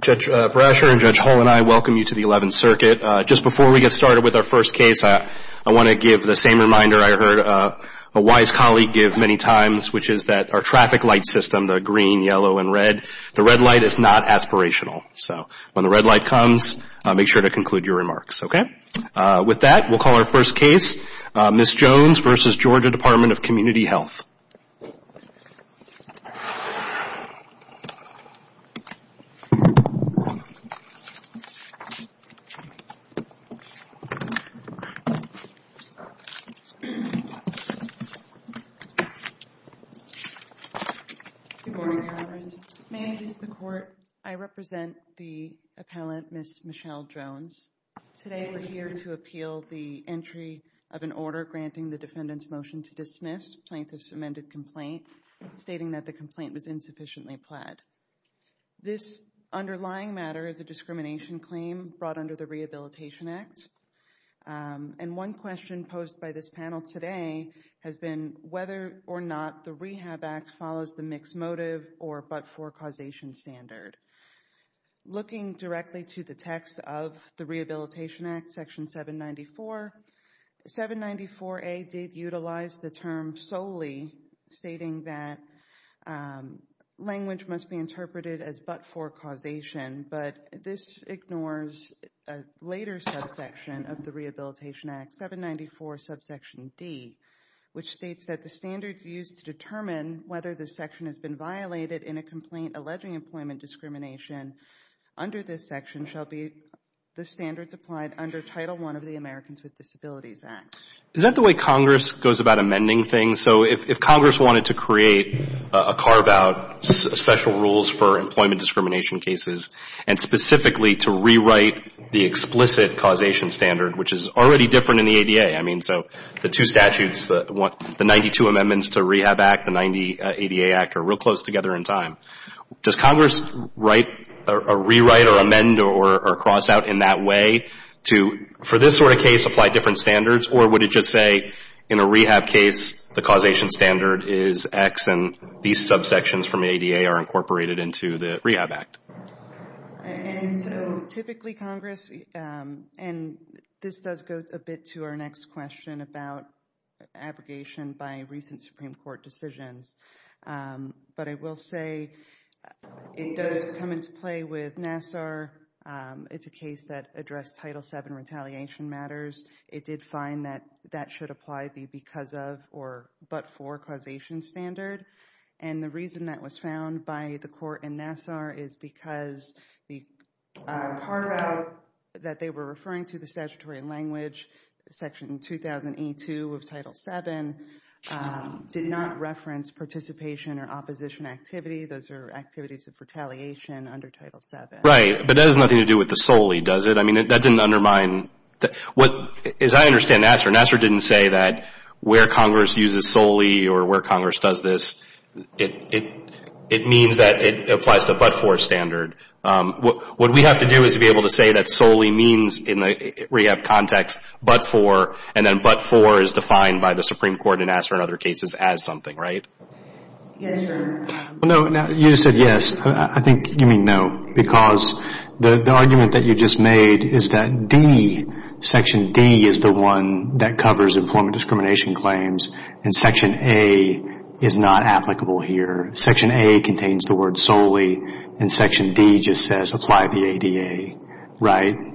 Judge Brasher and Judge Hull and I welcome you to the Eleventh Circuit. Just before we get started with our first case, I want to give the same reminder I heard a wise colleague give many times, which is that our traffic light system, the green, yellow, and red, the red light is not aspirational. So when the red light comes, make sure to conclude your remarks, okay? With that, we'll call our first case, Ms. Jones v. Georgia Department of Community Health. Good morning, Your Honors. May I introduce the court? I represent the appellant, Ms. Michelle Jones. Today we're here to appeal the entry of an order granting the defendant's motion to dismiss plaintiff's amended complaint, stating that the complaint was insufficiently This underlying matter is a discrimination claim brought under the Rehabilitation Act. And one question posed by this panel today has been whether or not the Rehab Act follows the mixed motive or but-for-causation standard. Looking directly to the text of the Rehabilitation Act, section 794, 794A did utilize the term solely, stating that language must be interpreted as but-for-causation, but this ignores a later subsection of the Rehabilitation Act, 794 subsection D, which states that the standards used to determine whether the section has been violated in a complaint alleging employment discrimination under this section shall be the standards applied under Title I of the Americans with Disabilities Act. Is that the way Congress goes about amending things? So if Congress wanted to create a carve-out, special rules for employment discrimination cases, and specifically to rewrite the explicit causation standard, which is already different in the ADA, I mean, so the two statutes, the 92 amendments to Rehab Act, the 90 ADA Act are real close together in time. Does Congress write, rewrite, or amend, or cross out in that way to, for this sort of case, apply different standards, or would it just say, in a rehab case, the causation standard is X and these subsections from the ADA are incorporated into the Rehab Act? Typically, Congress, and this does go a bit to our next question about abrogation by recent Supreme Court decisions, but I will say it does come into play with Nassar. It's a case that addressed Title VII retaliation matters. It did find that that should apply the because of or but for causation standard, and the reason that was found by the court in Nassar is because the carve-out that they were referring to, the statutory language, Section 2000E2 of Title VII, did not reference participation or opposition activity. Those are activities of retaliation under Title VII. Right, but that has nothing to do with the solely, does it? I mean, that didn't undermine, as I understand Nassar, Nassar didn't say that where Congress uses solely or where Congress does this, it means that it applies to but for standard. What we have to do is to be able to say that solely means in the rehab context, but for, and then but for is defined by the Supreme Court in Nassar and other cases as something, right? Yes, sir. No, you said yes. I think you mean no, because the argument that you just made is that D, Section D is the one that covers employment discrimination claims, and Section A is not applicable here. Section A contains the word solely, and Section D just says apply the word solely.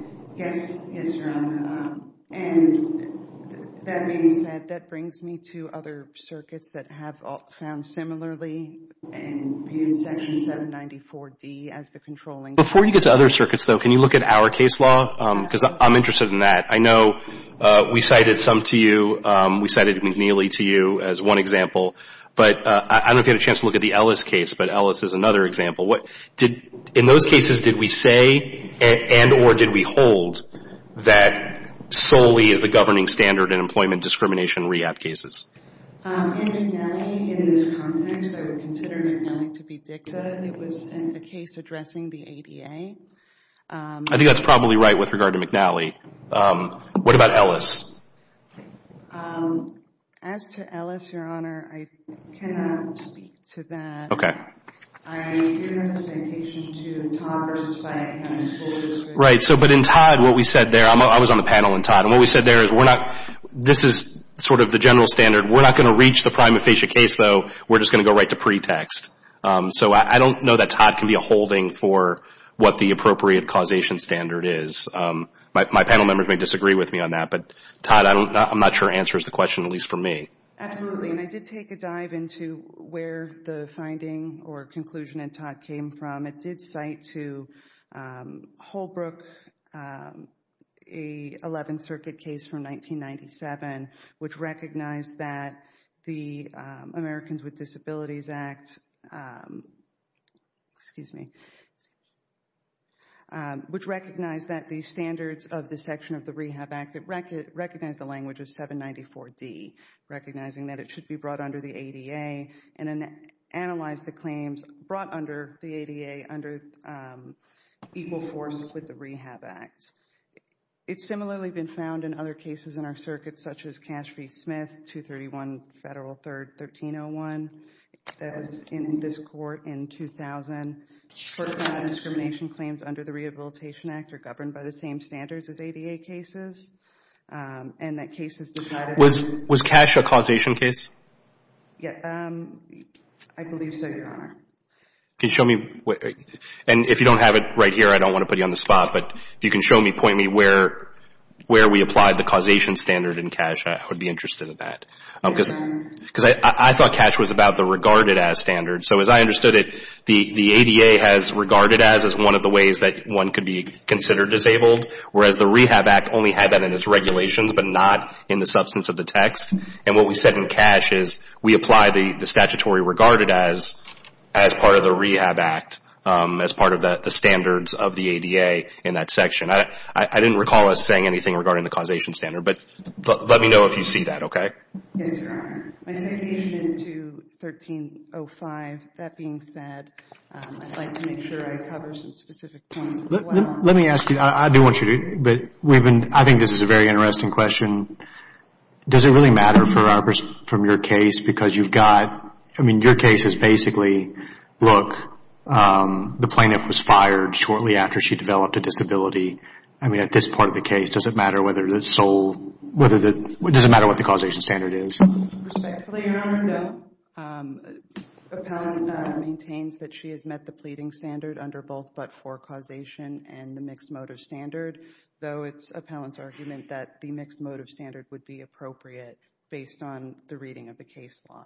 And that being said, that brings me to other circuits that have found similarly and viewed Section 794D as the controlling. Before you get to other circuits, though, can you look at our case law? Because I'm interested in that. I know we cited some to you, we cited McNeely to you as one example, but I don't know if you had a chance to look at the Ellis case, but Ellis is another example. In those cases, did we say and or did we hold that solely is the governing standard in employment discrimination rehab cases? In McNeely, in this context, I would consider McNeely to be dicta. It was sent a case addressing the ADA. I think that's probably right with regard to McNeely. What about Ellis? As to Ellis, Your Honor, I cannot speak to that. Okay. I do have a citation to Todd versus Flagg, and I suppose it's written. Right. So, but in Todd, what we said is that we said there, I was on the panel in Todd, and what we said there is we're not, this is sort of the general standard, we're not going to reach the prime aphasia case, though, we're just going to go right to pretext. So I don't know that Todd can be a holding for what the appropriate causation standard is. My panel members may disagree with me on that, but Todd, I'm not sure your answer is the question, at least for me. Absolutely. And I did take a dive into where the finding or conclusion in Todd came from. It did cite to Holbrook a 11th Circuit case from 1997, which recognized that the Americans with Disabilities Act, excuse me, which recognized that the standards of the section of the Rehab Act, it recognized the language of 794D, recognizing that it should be brought under the ADA, and analyzed the claims brought under the ADA under equal force with the Rehab Act. It's similarly been found in other cases in our circuit, such as Cash v. Smith, 231 Federal 3rd, 1301, that was in this court in 2000, for non-discrimination claims under the Rehabilitation Act are governed by the same standards as ADA cases, and that cases decided Was Cash a causation case? Yeah, I believe so, Your Honor. Can you show me? And if you don't have it right here, I don't want to put you on the spot, but if you can show me, point me where we applied the causation standard in Cash, I would be interested in that. Because I thought Cash was about the regarded as standard. So as I understood it, the ADA has regarded as as one of the ways that one could be considered disabled, whereas the Rehab Act only had that in its regulations, but not in the substance of the text. And what we said in Cash is, we apply the statutory regarded as, as part of the Rehab Act, as part of the standards of the ADA in that section. I didn't recall us saying anything regarding the causation standard, but let me know if you see that, okay? Yes, Your Honor. My citation is to 1305. That being said, I'd like to make sure I cover some specific points as well. Let me ask you, I do want you to, but we've been, I think this is a very interesting question. Does it really matter for our, from your case? Because you've got, I mean, your case is basically, look, the plaintiff was fired shortly after she developed a disability. I mean, at this part of the case, does it matter whether the sole, whether the, does it matter what the causation standard is? Respectfully, Your Honor, no. Appellant maintains that she has met the pleading standard under both but-for causation and the mixed motive standard, though it's appellant's argument that the mixed motive standard would be appropriate based on the reading of the case law.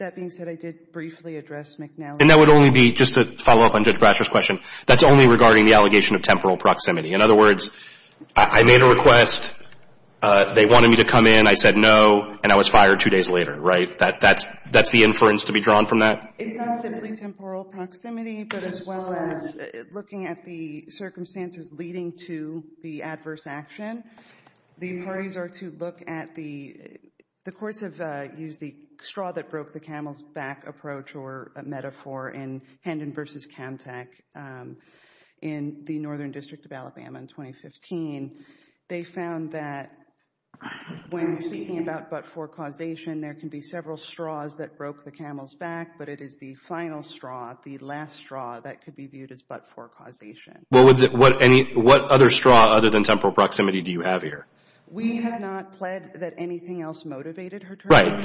That being said, I did briefly address McNally. And that would only be, just to follow up on Judge Brasher's question, that's only regarding the allegation of temporal proximity. In other words, I made a request, they wanted me to come in, I said no, and I was fired two days later, right? That's the inference to be drawn from that? It's not simply temporal proximity, but as well as looking at the circumstances leading to the adverse action. The parties are to look at the, the courts have used the straw that broke the camel's back approach or metaphor in Hendon v. Camtech in the Northern District of Alabama in 2015. They found that when speaking about but-for causation, there can be several straws that broke the camel's back, but it is the final straw, the last straw that could be viewed as but-for causation. What other straw other than temporal proximity do you have here? We have not pled that anything else motivated her termination. Right.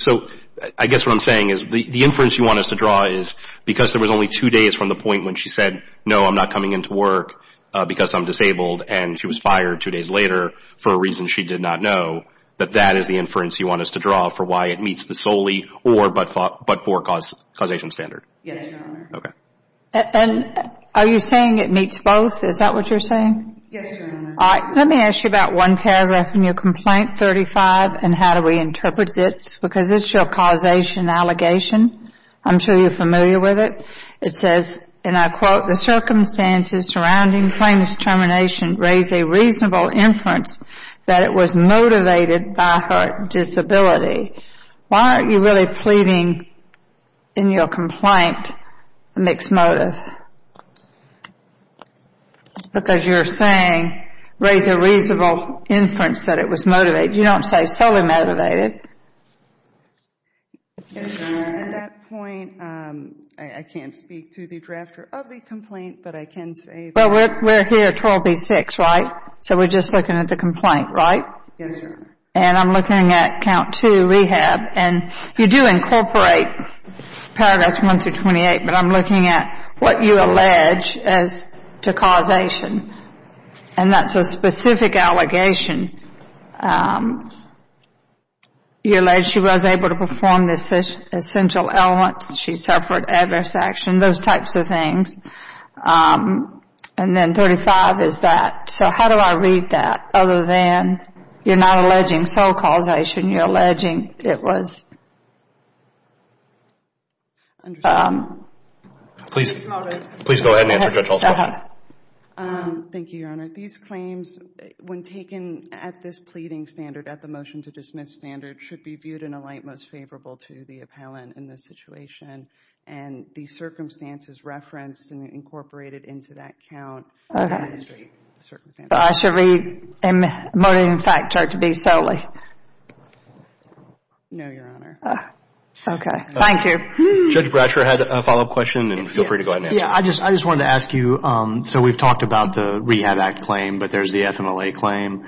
So I guess what I'm saying is the inference you want us to draw is because there was only two days from the point when she said no, I'm not coming into work because I'm disabled and she was fired two days later for a reason she did not know, that that is the inference you want us to draw for why it meets the solely or but-for causation standard? Yes, Your Honor. Okay. And are you saying it meets both? Is that what you're saying? Yes, Your Honor. All right. Let me ask you about one paragraph in your complaint 35 and how do we interpret it because it's your causation allegation. I'm sure you're familiar with it. It says, and I quote, the circumstances surrounding Plaintiff's termination raise a reasonable inference that it was motivated by her disability. Why aren't you really pleading in your complaint a mixed motive? Because you're saying raise a reasonable inference that it was motivated. You don't say solely motivated. Yes, Your Honor. At that point, I can't speak to the drafter of the complaint, but I can say that— Well, we're here at 12B6, right? So we're just looking at the complaint, right? Yes, Your Honor. And I'm looking at count two, rehab, and you do incorporate paragraphs 1-28, but I'm looking at what you allege as to causation, and that's a specific allegation. You allege she was And then 35 is that. So how do I read that other than you're not alleging sole causation, you're alleging it was— Please go ahead and answer, Judge Altshuler. Thank you, Your Honor. These claims, when taken at this pleading standard, at the motion to dismiss standard, should be viewed in a light most favorable to the appellant in this case. Okay. So I should be emoting the fact charge to be solely. No, Your Honor. Okay. Thank you. Judge Bratcher had a follow-up question, and feel free to go ahead and answer. Yes. I just wanted to ask you, so we've talked about the Rehab Act claim, but there's the FMLA claim.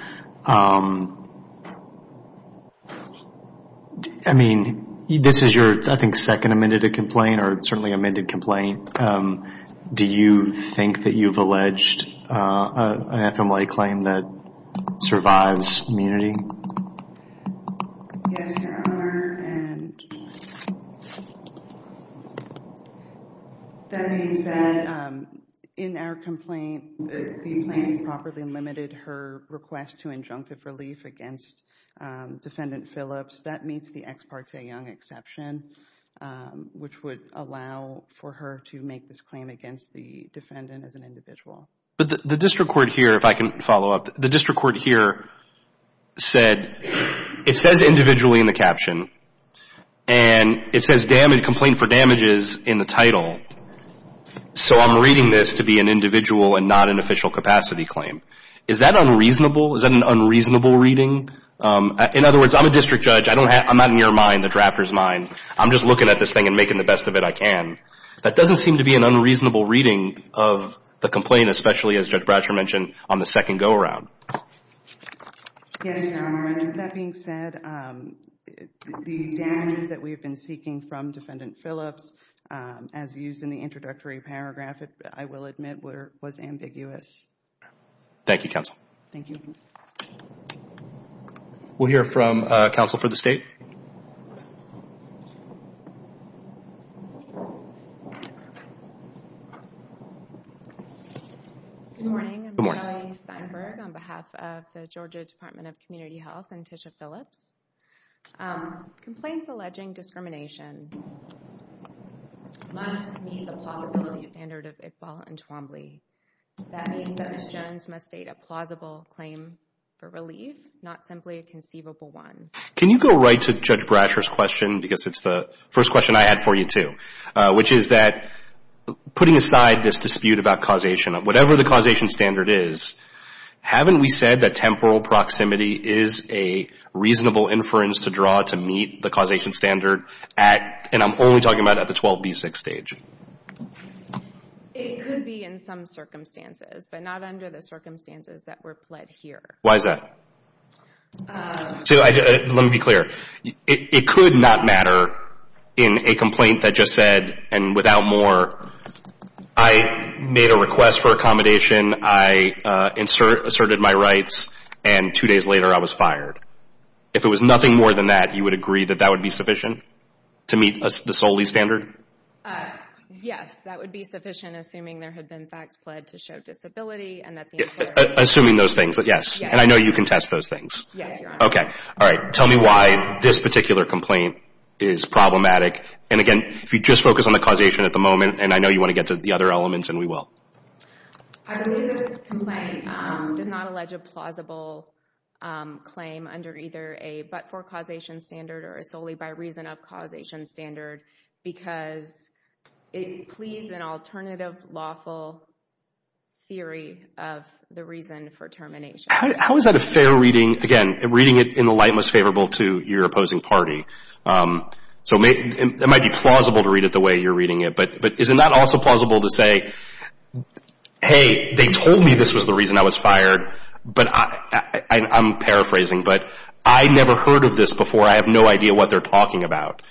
I mean, this is your, I think, second amended complaint or certainly amended complaint. Do you think that you've alleged an FMLA claim that survives immunity? Yes, Your Honor. And that being said, in our complaint, the plaintiff properly limited her request to injunctive relief against Defendant Phillips. That meets the Ex parte Young exception, which would allow for her to make this claim against the defendant as an individual. But the district court here, if I can follow up, the district court here said, it says individually in the caption, and it says complaint for damages in the title. So I'm reading this to be an individual and not an official capacity claim. Is that unreasonable? Is that an unreasonable reading? In other words, I'm a district judge. I'm not in your Raptor's mind. I'm just looking at this thing and making the best of it I can. That doesn't seem to be an unreasonable reading of the complaint, especially, as Judge Bradshaw mentioned, on the second go-around. Yes, Your Honor. That being said, the damages that we've been seeking from Defendant Phillips, as used in the introductory paragraph, I will admit, was ambiguous. Thank you, counsel. Thank you. We'll hear from counsel for the State. Good morning. I'm Shelley Steinberg on behalf of the Georgia Department of Community Health and Tisha Phillips. Complaints alleging discrimination must meet the plausibility standard of Iqbal and Twombly. That means that Ms. Jones must state a plausible claim for relief, not simply a conceivable one. Can you go right to Judge Bradshaw's question, because it's the first question I had for you too, which is that, putting aside this dispute about causation, whatever the causation standard is, haven't we said that temporal proximity is a reasonable inference to draw to meet the causation standard at, and I'm only talking about at the 12B6 stage? It could be in some circumstances, but not under the circumstances that were pled here. Why is that? Let me be clear. It could not matter in a complaint that just said, and without more, I made a request for accommodation, I asserted my rights, and two days later I was fired. If it was nothing more than that, you would agree that that would be sufficient to meet the solely standard? Yes, that would be sufficient, assuming there had been facts pled to show disability. Assuming those things, yes, and I know you can test those things. Yes, Your Honor. Tell me why this particular complaint is problematic, and again, if you just focus on the causation at the moment, and I know you want to get to the other elements, and we will. I believe this complaint does not allege a plausible claim under either a but-for causation standard or a solely by reason of causation standard, because it pleads an alternative lawful theory of the reason for termination. How is that a fair reading? Again, reading it in the light most favorable to your opposing party. So it might be plausible to read it the way you're reading it, but is it not also plausible to say, hey, they told me this was the reason I was fired, but I'm paraphrasing, but I never heard of this before. I have no idea what they're talking about.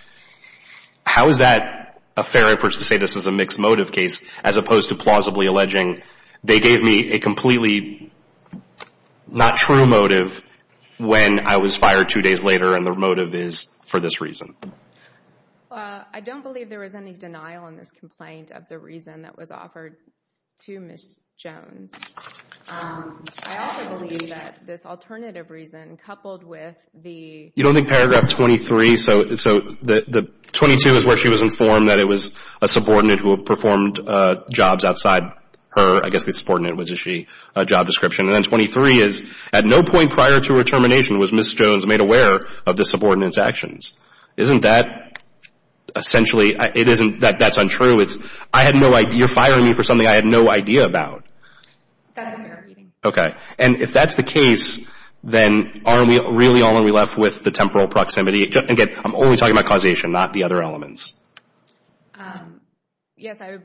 How is that a fair reference to say this is a mixed motive case, as opposed to plausibly alleging they gave me a completely not true motive when I was fired two days later, and the motive is for this reason? I don't believe there was any denial in this complaint of the reason that was offered to Ms. Jones. I also believe that this alternative reason coupled with the... You don't think paragraph 23, so the 22 is where she was informed that it was a subordinate who had performed jobs outside her, I guess the subordinate was a job description, and then 23 is, at no point prior to her termination was Ms. Jones made aware of the subordinate's actions. Isn't that essentially, it isn't, that's untrue. I had no idea, you're firing me for something I had no idea about. That's a fair reading. Okay. And if that's the case, then are we really only left with the temporal proximity? Again, I'm only talking about causation, not the other elements. Yes, I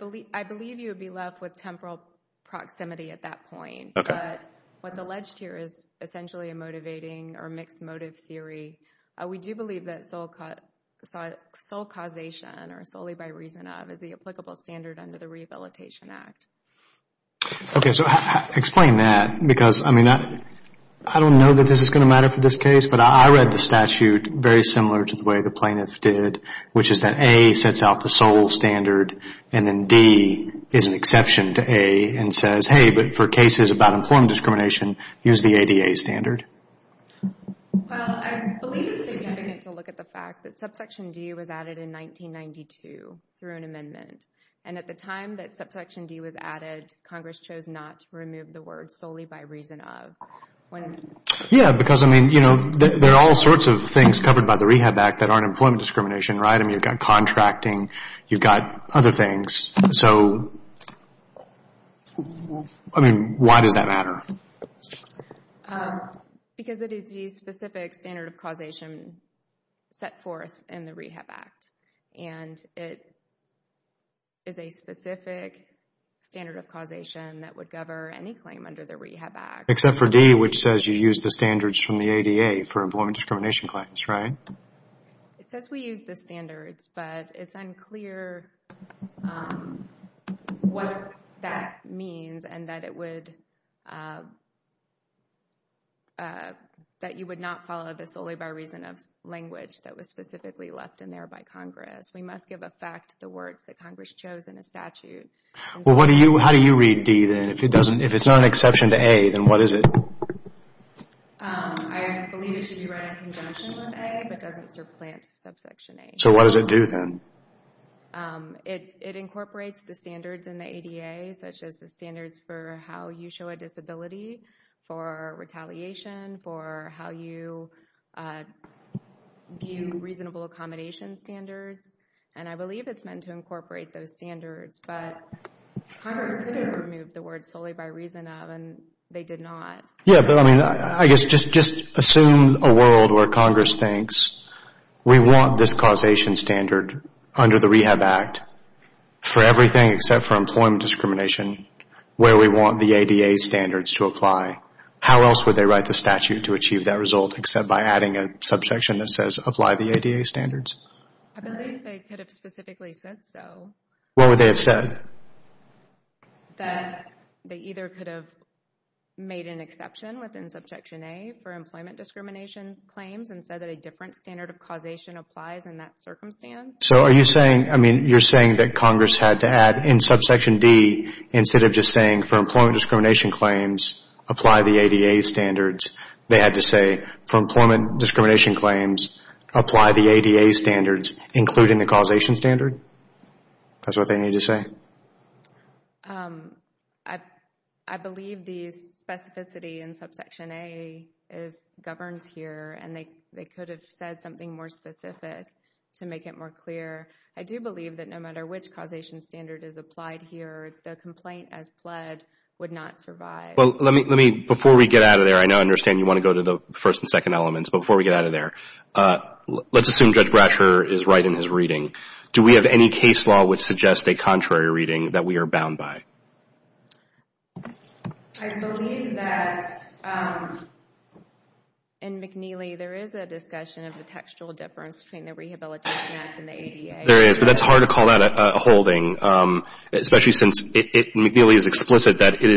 believe you would be left with temporal proximity at that point. Okay. But what's alleged here is essentially a motivating or mixed motive theory. We do believe that sole causation or solely by reason of is the applicable standard under the Rehabilitation Act. Okay, so explain that. Because, I mean, I don't know that this is going to matter for this case, but I read the statute very similar to the way the plaintiff did, which is that A sets out the sole standard, and then D is an exception to A and says, hey, but for cases about employment discrimination, use the ADA standard. Well, I believe it's significant to look at the fact that subsection D was added in 1992 through an amendment. And at the time that subsection D was added, Congress chose not to remove the word solely by reason of. Yeah, because, I mean, there are all sorts of things covered by the Rehab Act that aren't employment discrimination, right? I mean, you've got contracting, you've got other things. So, I mean, why does that matter? Because it is the specific standard of causation set forth in the Rehab Act. And it is a specific standard of causation that would cover any claim under the Rehab Act. Except for D, which says you use the standards from the ADA for employment discrimination claims, right? It says we use the standards, but it's unclear what that means and that it would, that you would not follow this solely by reason of language that was specifically left in there by Congress. We must give effect to the words that Congress chose in a statute. Well, how do you read D then? If it's not an exception to A, then what is it? I believe it should be read in conjunction with A, but doesn't supplant subsection A. So what does it do then? It incorporates the standards in the ADA, such as the standards for how you show a disability, for retaliation, for how you view reasonable accommodation standards. And I believe it's meant to incorporate those standards, but Congress could have removed the words solely by reason of, and they did not. Yeah, but I mean, I guess just assume a world where Congress thinks we want this causation standard under the Rehab Act for everything except for employment discrimination where we want the ADA standards to apply. How else would they write the statute to achieve that result except by adding a subsection that says apply the ADA standards? I believe they could have specifically said so. What would they have said? That they either could have made an exception within subsection A for employment discrimination claims and said that a different standard of causation applies in that circumstance. So are you saying, I mean, you're saying that Congress had to add in subsection D instead of just saying for employment discrimination claims apply the ADA standards, they had to say for employment discrimination claims apply the ADA standards including the causation standard? That's what they need to say? I believe the specificity in subsection A governs here and they could have said something more specific to make it more clear. I do believe that no matter which causation standard is applied here, the complaint as pled would not survive. Before we get out of there, I understand you want to go to the first and second elements, but before we get out of there, let's assume Judge Brasher is right in his reading. Do we have any case law which suggests a contrary reading that we are bound by? I believe that in McNeely there is a discussion of the textual difference between the Rehabilitation Act and the ADA. There is, but that's hard to call out a holding, especially since McNeely is explicit that it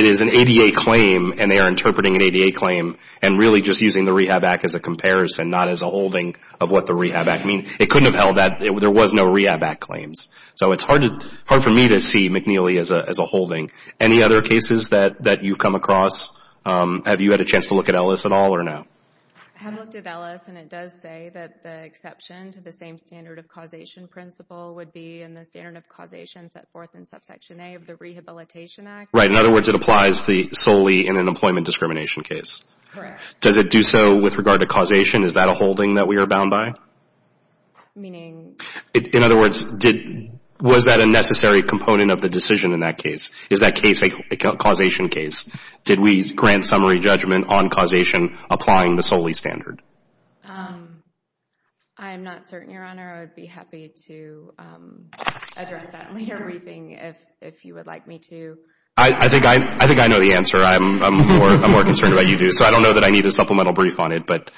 is an ADA claim and they are interpreting an ADA claim and really just using the Rehab Act as a comparison, not as a holding of what the Rehab Act means. It couldn't have held that. There was no Rehab Act claims. So it's hard for me to see McNeely as a holding. Any other cases that you've come across? Have you had a chance to look at Ellis at all or no? I have looked at Ellis and it does say that the exception to the same standard of causation principle would be in the standard of causation set forth in subsection A of the Rehabilitation Act. Right, in other words, it applies solely in an employment discrimination case. Correct. Does it do so with regard to causation? Is that a holding that we are bound by? Meaning? In other words, was that a necessary component of the decision in that case? Is that case a causation case? Did we grant summary judgment on causation applying the solely standard? I am not certain, Your Honor. I would be happy to address that later. I would like a briefing if you would like me to. I think I know the answer. I am more concerned about you, too. So I don't know that I need a supplemental brief on it, but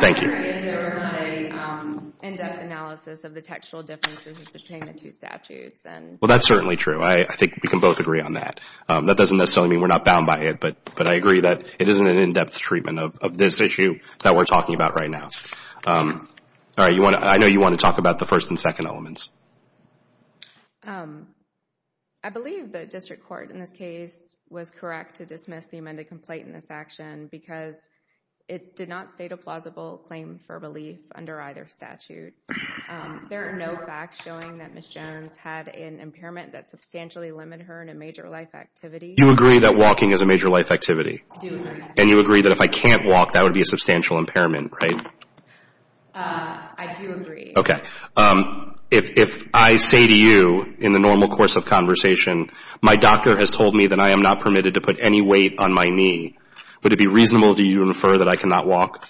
thank you. My concern is that we are doing an in-depth analysis of the textual differences between the two statutes. Well, that's certainly true. I think we can both agree on that. That doesn't necessarily mean we are not bound by it, but I agree that it isn't an in-depth treatment of this issue that we are talking about right now. I know you want to talk about the first and second elements. I believe the district court in this case was correct to dismiss the amended complaint in this action because it did not state a plausible claim for relief under either statute. There are no facts showing that Ms. Jones had an impairment that substantially limited her in a major life activity. You agree that walking is a major life activity? I do agree. And you agree that if I can't walk, that would be a substantial impairment, right? I do agree. Okay. If I say to you in the normal course of conversation, my doctor has told me that I am not permitted to put any weight on my knee, would it be reasonable to you to infer that I cannot walk?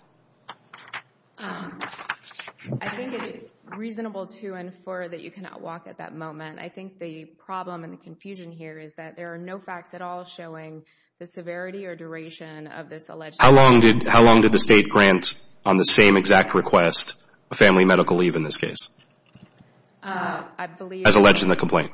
I think it is reasonable to infer that you cannot walk at that moment. I think the problem and the confusion here is that there are no facts at all showing the severity or duration of this alleged impairment. How long did the state grant on the same exact request, a family medical leave in this case? I believe... As alleged in the complaint.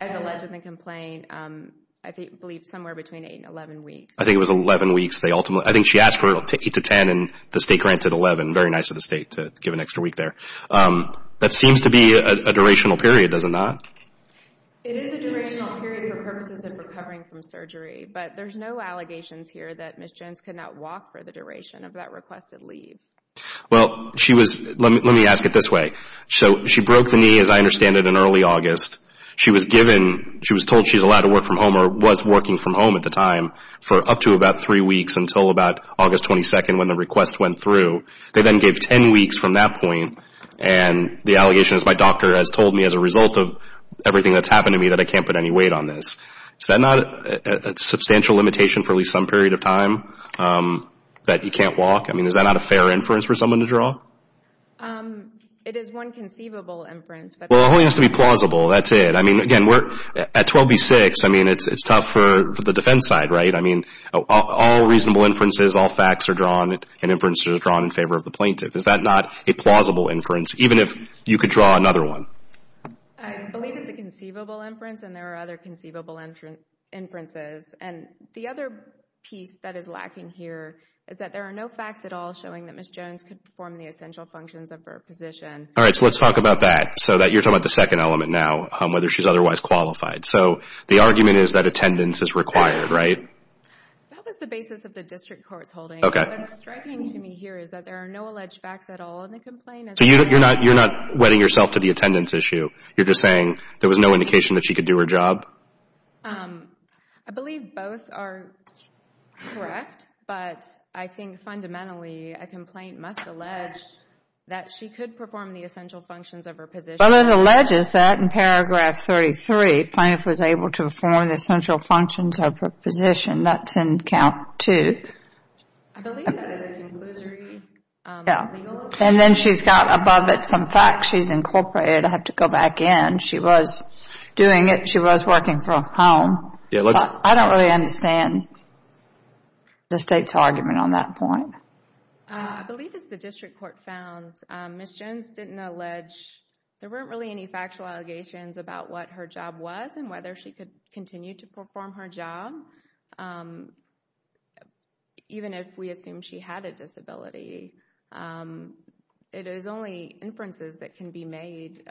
As alleged in the complaint, I believe somewhere between 8 and 11 weeks. I think it was 11 weeks. I think she asked for it to 8 to 10 and the state granted 11. Very nice of the state to give an extra week there. That seems to be a durational period, does it not? It is a durational period for purposes of recovering from surgery, but there's no allegations here that Ms. Jones could not walk for the duration of that requested leave. Well, she was... Let me ask it this way. So she broke the knee, as I understand it, in early August. She was given... She was told she was allowed to work from home or was working from home at the time for up to about 3 weeks until about August 22nd when the request went through. They then gave 10 weeks from that point and the allegations my doctor has told me as a result of everything that's happened to me that I can't put any weight on this. Is that not a substantial limitation for at least some period of time that you can't walk? I mean, is that not a fair inference for someone to draw? It is one conceivable inference, but... Well, it only has to be plausible. That's it. I mean, again, at 12B6, I mean, it's tough for the defense side, right? I mean, all reasonable inferences, all facts are drawn and inferences are drawn in favor of the plaintiff. Is that not a plausible inference even if you could draw another one? I believe it's a conceivable inference and there are other conceivable inferences. And the other piece that is lacking here is that there are no facts at all showing that Ms. Jones could perform the essential functions of her position. All right, so let's talk about that. So you're talking about the second element now, whether she's otherwise qualified. So the argument is that attendance is required, right? That was the basis of the district court's holding. Okay. What's striking to me here is that there are no alleged facts at all in the complaint. So you're not wetting yourself to the attendance issue? You're just saying there was no indication that she could do her job? I believe both are correct, but I think fundamentally a complaint must allege that she could perform the essential functions of her position. But it alleges that in paragraph 33, plaintiff was able to perform the essential functions of her position. That's in count two. I believe that is a conclusory legal assignment. And then she's got above it some facts she's incorporated. I have to go back in. She was doing it. She was working from home. I don't really understand the state's argument on that point. I believe as the district court found, Ms. Jones didn't allege, there weren't really any factual allegations about what her job was and whether she could continue to perform her job, even if we assume she had a disability. It is only inferences that can be made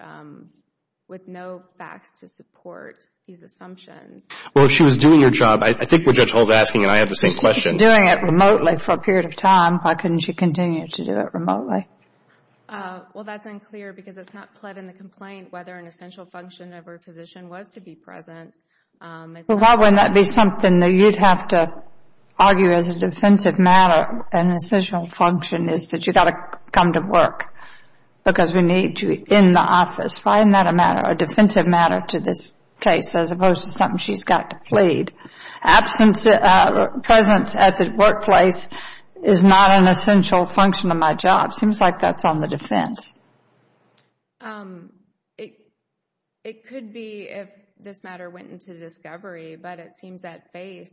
with no facts to support these assumptions. Well, if she was doing her job, I think what Judge Hull's asking, and I have the same question. If she was doing it remotely for a period of time, why couldn't she continue to do it remotely? Well, that's unclear because it's not pled in the complaint whether an essential function of her position was to be present. Well, why wouldn't that be something that you'd have to argue as a defensive matter? An essential function is that you've got to come to work because we need you in the office. Why isn't that a matter, a defensive matter to this case as opposed to something she's got to plead? Presence at the workplace is not an essential function of my job. It seems like that's on the defense. It could be if this matter went into discovery, but it seems at base.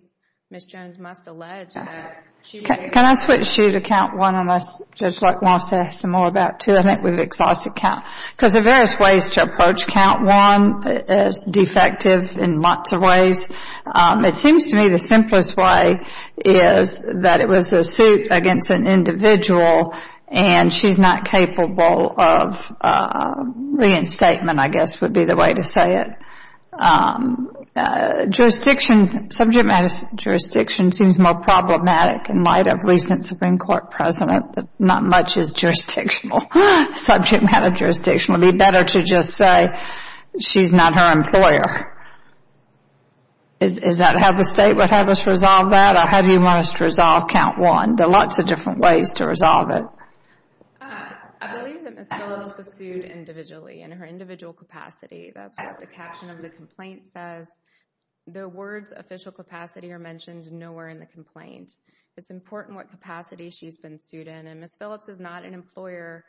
Ms. Jones must allege that she... Can I switch you to count one unless Judge Luck wants to ask some more about two? I think we've exhausted count. Because there are various ways to approach count one as defective in lots of ways. It seems to me the simplest way is that it was a suit against an individual and she's not capable of reinstatement, I guess would be the way to say it. Subject matter jurisdiction seems more problematic in light of recent Supreme Court precedent that not much is jurisdictional. Subject matter jurisdiction. It would be better to just say she's not her employer. Is that how the state would have us resolve that? Or how do you want us to resolve count one? There are lots of different ways to resolve it. I believe that Ms. Phillips was sued individually in her individual capacity. That's what the caption of the complaint says. The words official capacity are mentioned nowhere in the complaint. It's important what capacity she's been sued in. And Ms. Phillips is not an employer...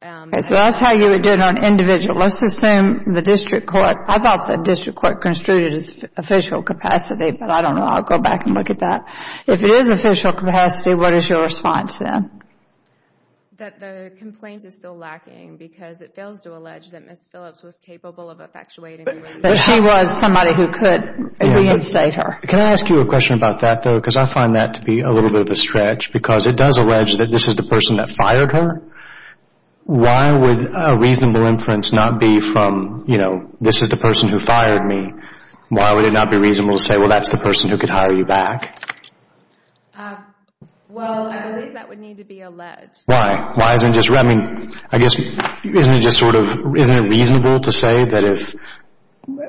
So that's how you would do it on individual. Let's assume the district court... I thought the district court construed it as official capacity, but I don't know. I'll go back and look at that. If it is official capacity, what is your response then? That the complaint is still lacking because it fails to allege that Ms. Phillips was capable of effectuating... That she was somebody who could reinstate her. Can I ask you a question about that though? Because I find that to be a little bit of a stretch because it does allege that this is the person that fired her. Why would a reasonable inference not be from, you know, this is the person who fired me. Why would it not be reasonable to say, well, that's the person who could hire you back? Well, I believe that would need to be alleged. Why? I mean, isn't it reasonable to say that if...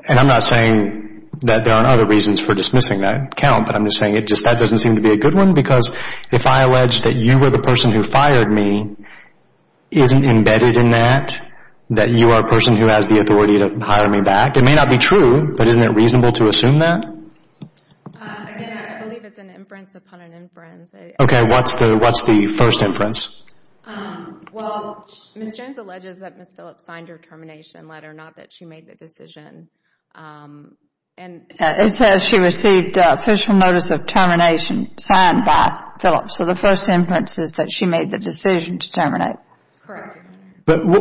And I'm not saying that there aren't other reasons for dismissing that count, but I'm just saying that doesn't seem to be a good one because if I allege that you were the person who fired me, isn't embedded in that, that you are a person who has the authority to hire me back. It may not be true, but isn't it reasonable to assume that? Again, I believe it's an inference upon an inference. Okay, what's the first inference? Well, Ms. Jones alleges that Ms. Phillips signed her termination letter, not that she made the decision. It says she received official notice of termination signed by Phillips. So the first inference is that she made the decision to terminate. Correct. But why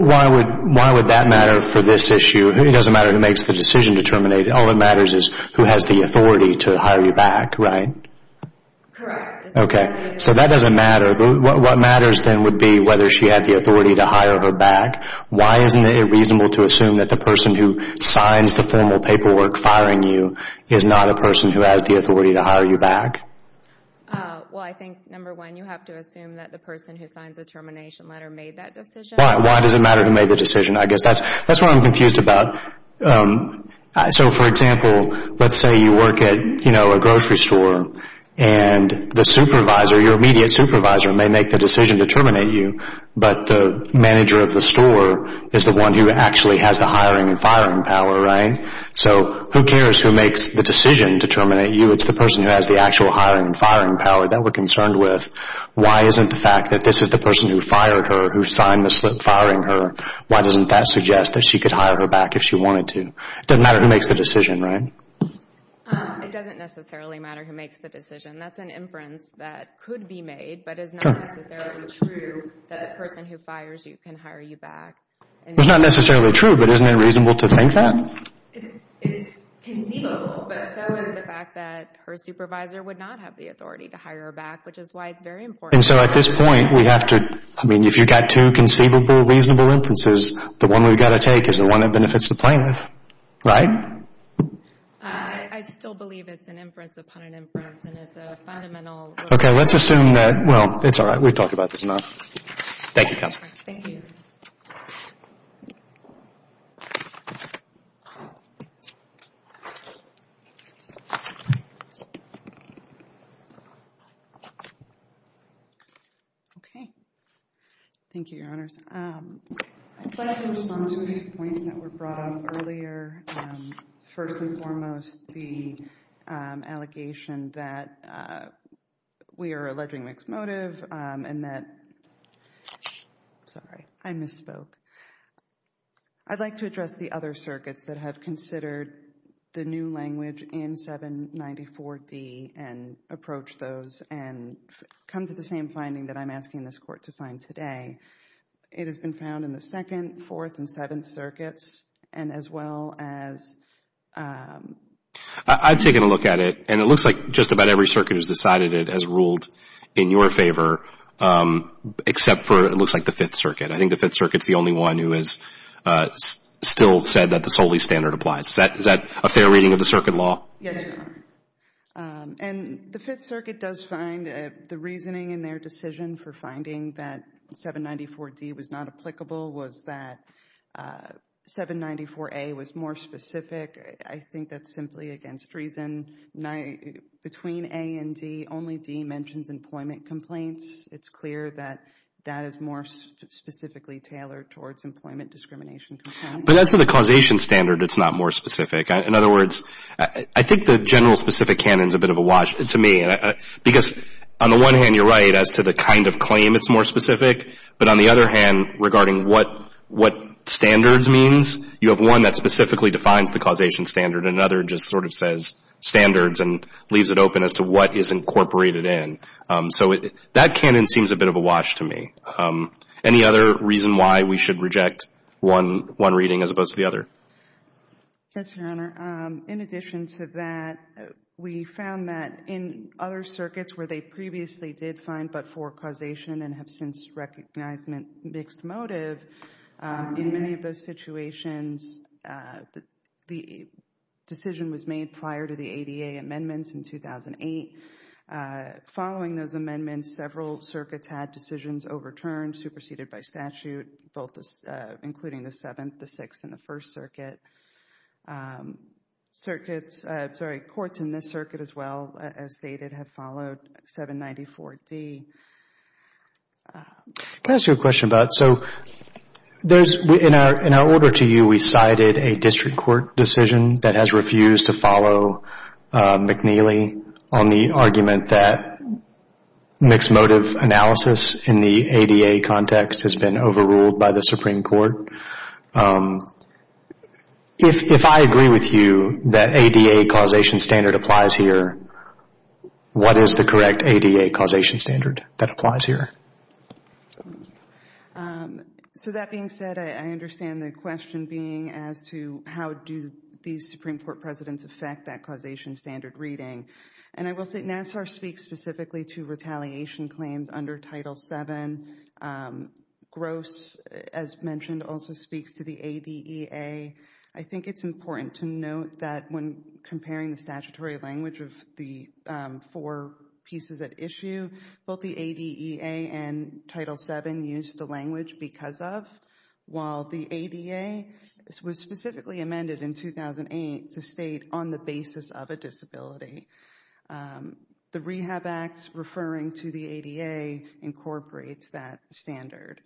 would that matter for this issue? It doesn't matter who makes the decision to terminate. All that matters is who has the authority to hire you back, right? Correct. Okay, so that doesn't matter. What matters then would be whether she had the authority to hire her back. Why isn't it reasonable to assume that the person is not a person who has the authority to hire you back? Well, I think, number one, you have to assume that the person who signed the termination letter made that decision. Why does it matter who made the decision? I guess that's what I'm confused about. So, for example, let's say you work at a grocery store and the supervisor, your immediate supervisor, may make the decision to terminate you, but the manager of the store is the one who actually has the hiring and firing power, right? So who cares who makes the decision to terminate you? It's the person who has the actual hiring and firing power that we're concerned with. Why isn't the fact that this is the person who fired her, who signed the slip firing her, why doesn't that suggest that she could hire her back if she wanted to? It doesn't matter who makes the decision, right? It doesn't necessarily matter who makes the decision. That's an inference that could be made, but it's not necessarily true that the person who fires you can hire you back. It's not necessarily true, but isn't it reasonable to think that? It's conceivable, but so is the fact that her supervisor would not have the authority to hire her back, which is why it's very important. And so at this point, we have to... I mean, if you've got two conceivable, reasonable inferences, the one we've got to take is the one that benefits the plaintiff, right? I still believe it's an inference upon an inference, and it's a fundamental... Okay, let's assume that... Well, it's all right. We've talked about this enough. Thank you, Counselor. Thank you. Thank you. Okay. Thank you, Your Honors. I'd like to respond to the points that were brought up earlier. First and foremost, the allegation that we are alleging mixed motive, and that... Sorry, I misspoke. I'd like to address the other circuits that have considered the new language in 794D and approached those and come to the same finding that I'm asking this Court to find today. It has been found in the Second, Fourth, and Seventh Circuits, and as well as... I've taken a look at it, and it looks like just about every circuit has decided it has ruled in your favor, except for, it looks like, the Fifth Circuit. I think the Fifth Circuit is the only one who has still said that the Soli standard applies. Is that a fair reading of the circuit law? Yes, Your Honor. And the Fifth Circuit does find the reasoning in their decision for finding that 794D was not applicable was that 794A was more specific. I think that's simply against reason. Between A and D, only D mentions employment complaints. It's clear that that is more specifically tailored towards employment discrimination complaints. But as to the causation standard, it's not more specific. In other words, I think the general specific canon is a bit of a wash to me, because on the one hand, you're right as to the kind of claim that's more specific, but on the other hand, regarding what standards means, you have one that specifically defines the causation standard, and another just sort of says standards and leaves it open as to what is incorporated in. So that canon seems a bit of a wash to me. Any other reason why we should reject one reading as opposed to the other? Yes, Your Honor. In addition to that, we found that in other circuits where they previously did find but-for causation and have since recognized mixed motive, in many of those situations, the decision was made prior to the ADA amendments in 2008. Following those amendments, several circuits had decisions overturned, superseded by statute, both including the Seventh, the Sixth, and the First Circuit. Courts in this circuit as well, as stated, have followed 794D. Can I ask you a question about it? In our order to you, we cited a district court decision that has refused to follow McNeely on the argument that mixed motive analysis in the ADA context has been overruled by the Supreme Court. If I agree with you that ADA causation standard applies here, what is the correct ADA causation standard that applies here? So that being said, I understand the question being as to how do these Supreme Court presidents affect that causation standard reading. And I will say NASSAR speaks specifically to retaliation claims under Title VII. Gross, as mentioned, also speaks to the ADEA. I think it's important to note that when comparing the statutory language of the four pieces at issue, both the ADEA and Title VII use the language because of, while the ADA was specifically amended in 2008 to state on the basis of a disability. The Rehab Act referring to the ADA incorporates that standard.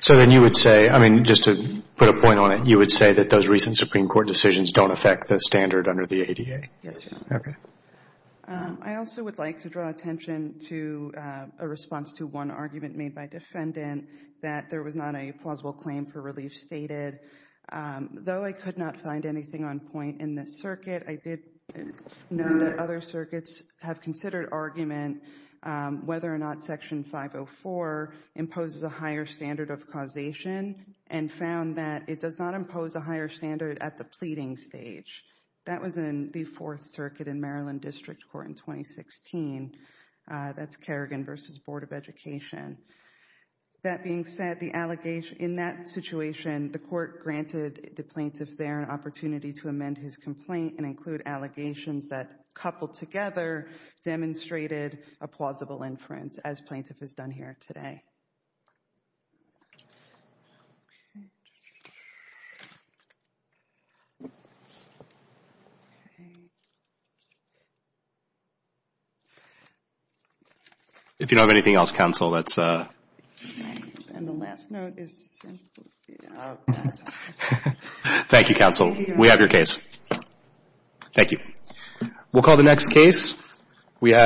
So then you would say, I mean, just to put a point on it, you would say that those recent Supreme Court decisions don't affect the standard under the ADA? Yes. Okay. I also would like to draw attention to a response to one argument made by defendant that there was not a plausible claim for relief stated. Though I could not find anything on point in this circuit, I did know that other circuits have considered argument whether or not Section 504 imposes a higher standard of causation and found that it does not impose a higher standard at the pleading stage. That was in the Fourth Circuit in Maryland District Court in 2016. That's Kerrigan v. Board of Education. That being said, in that situation, the court granted the plaintiff there an opportunity to amend his complaint and include allegations that coupled together demonstrated a plausible inference, as plaintiff has done here today. If you don't have anything else, counsel, let's... And the last note is... Thank you, counsel. We have your case. Thank you. We'll call the next case.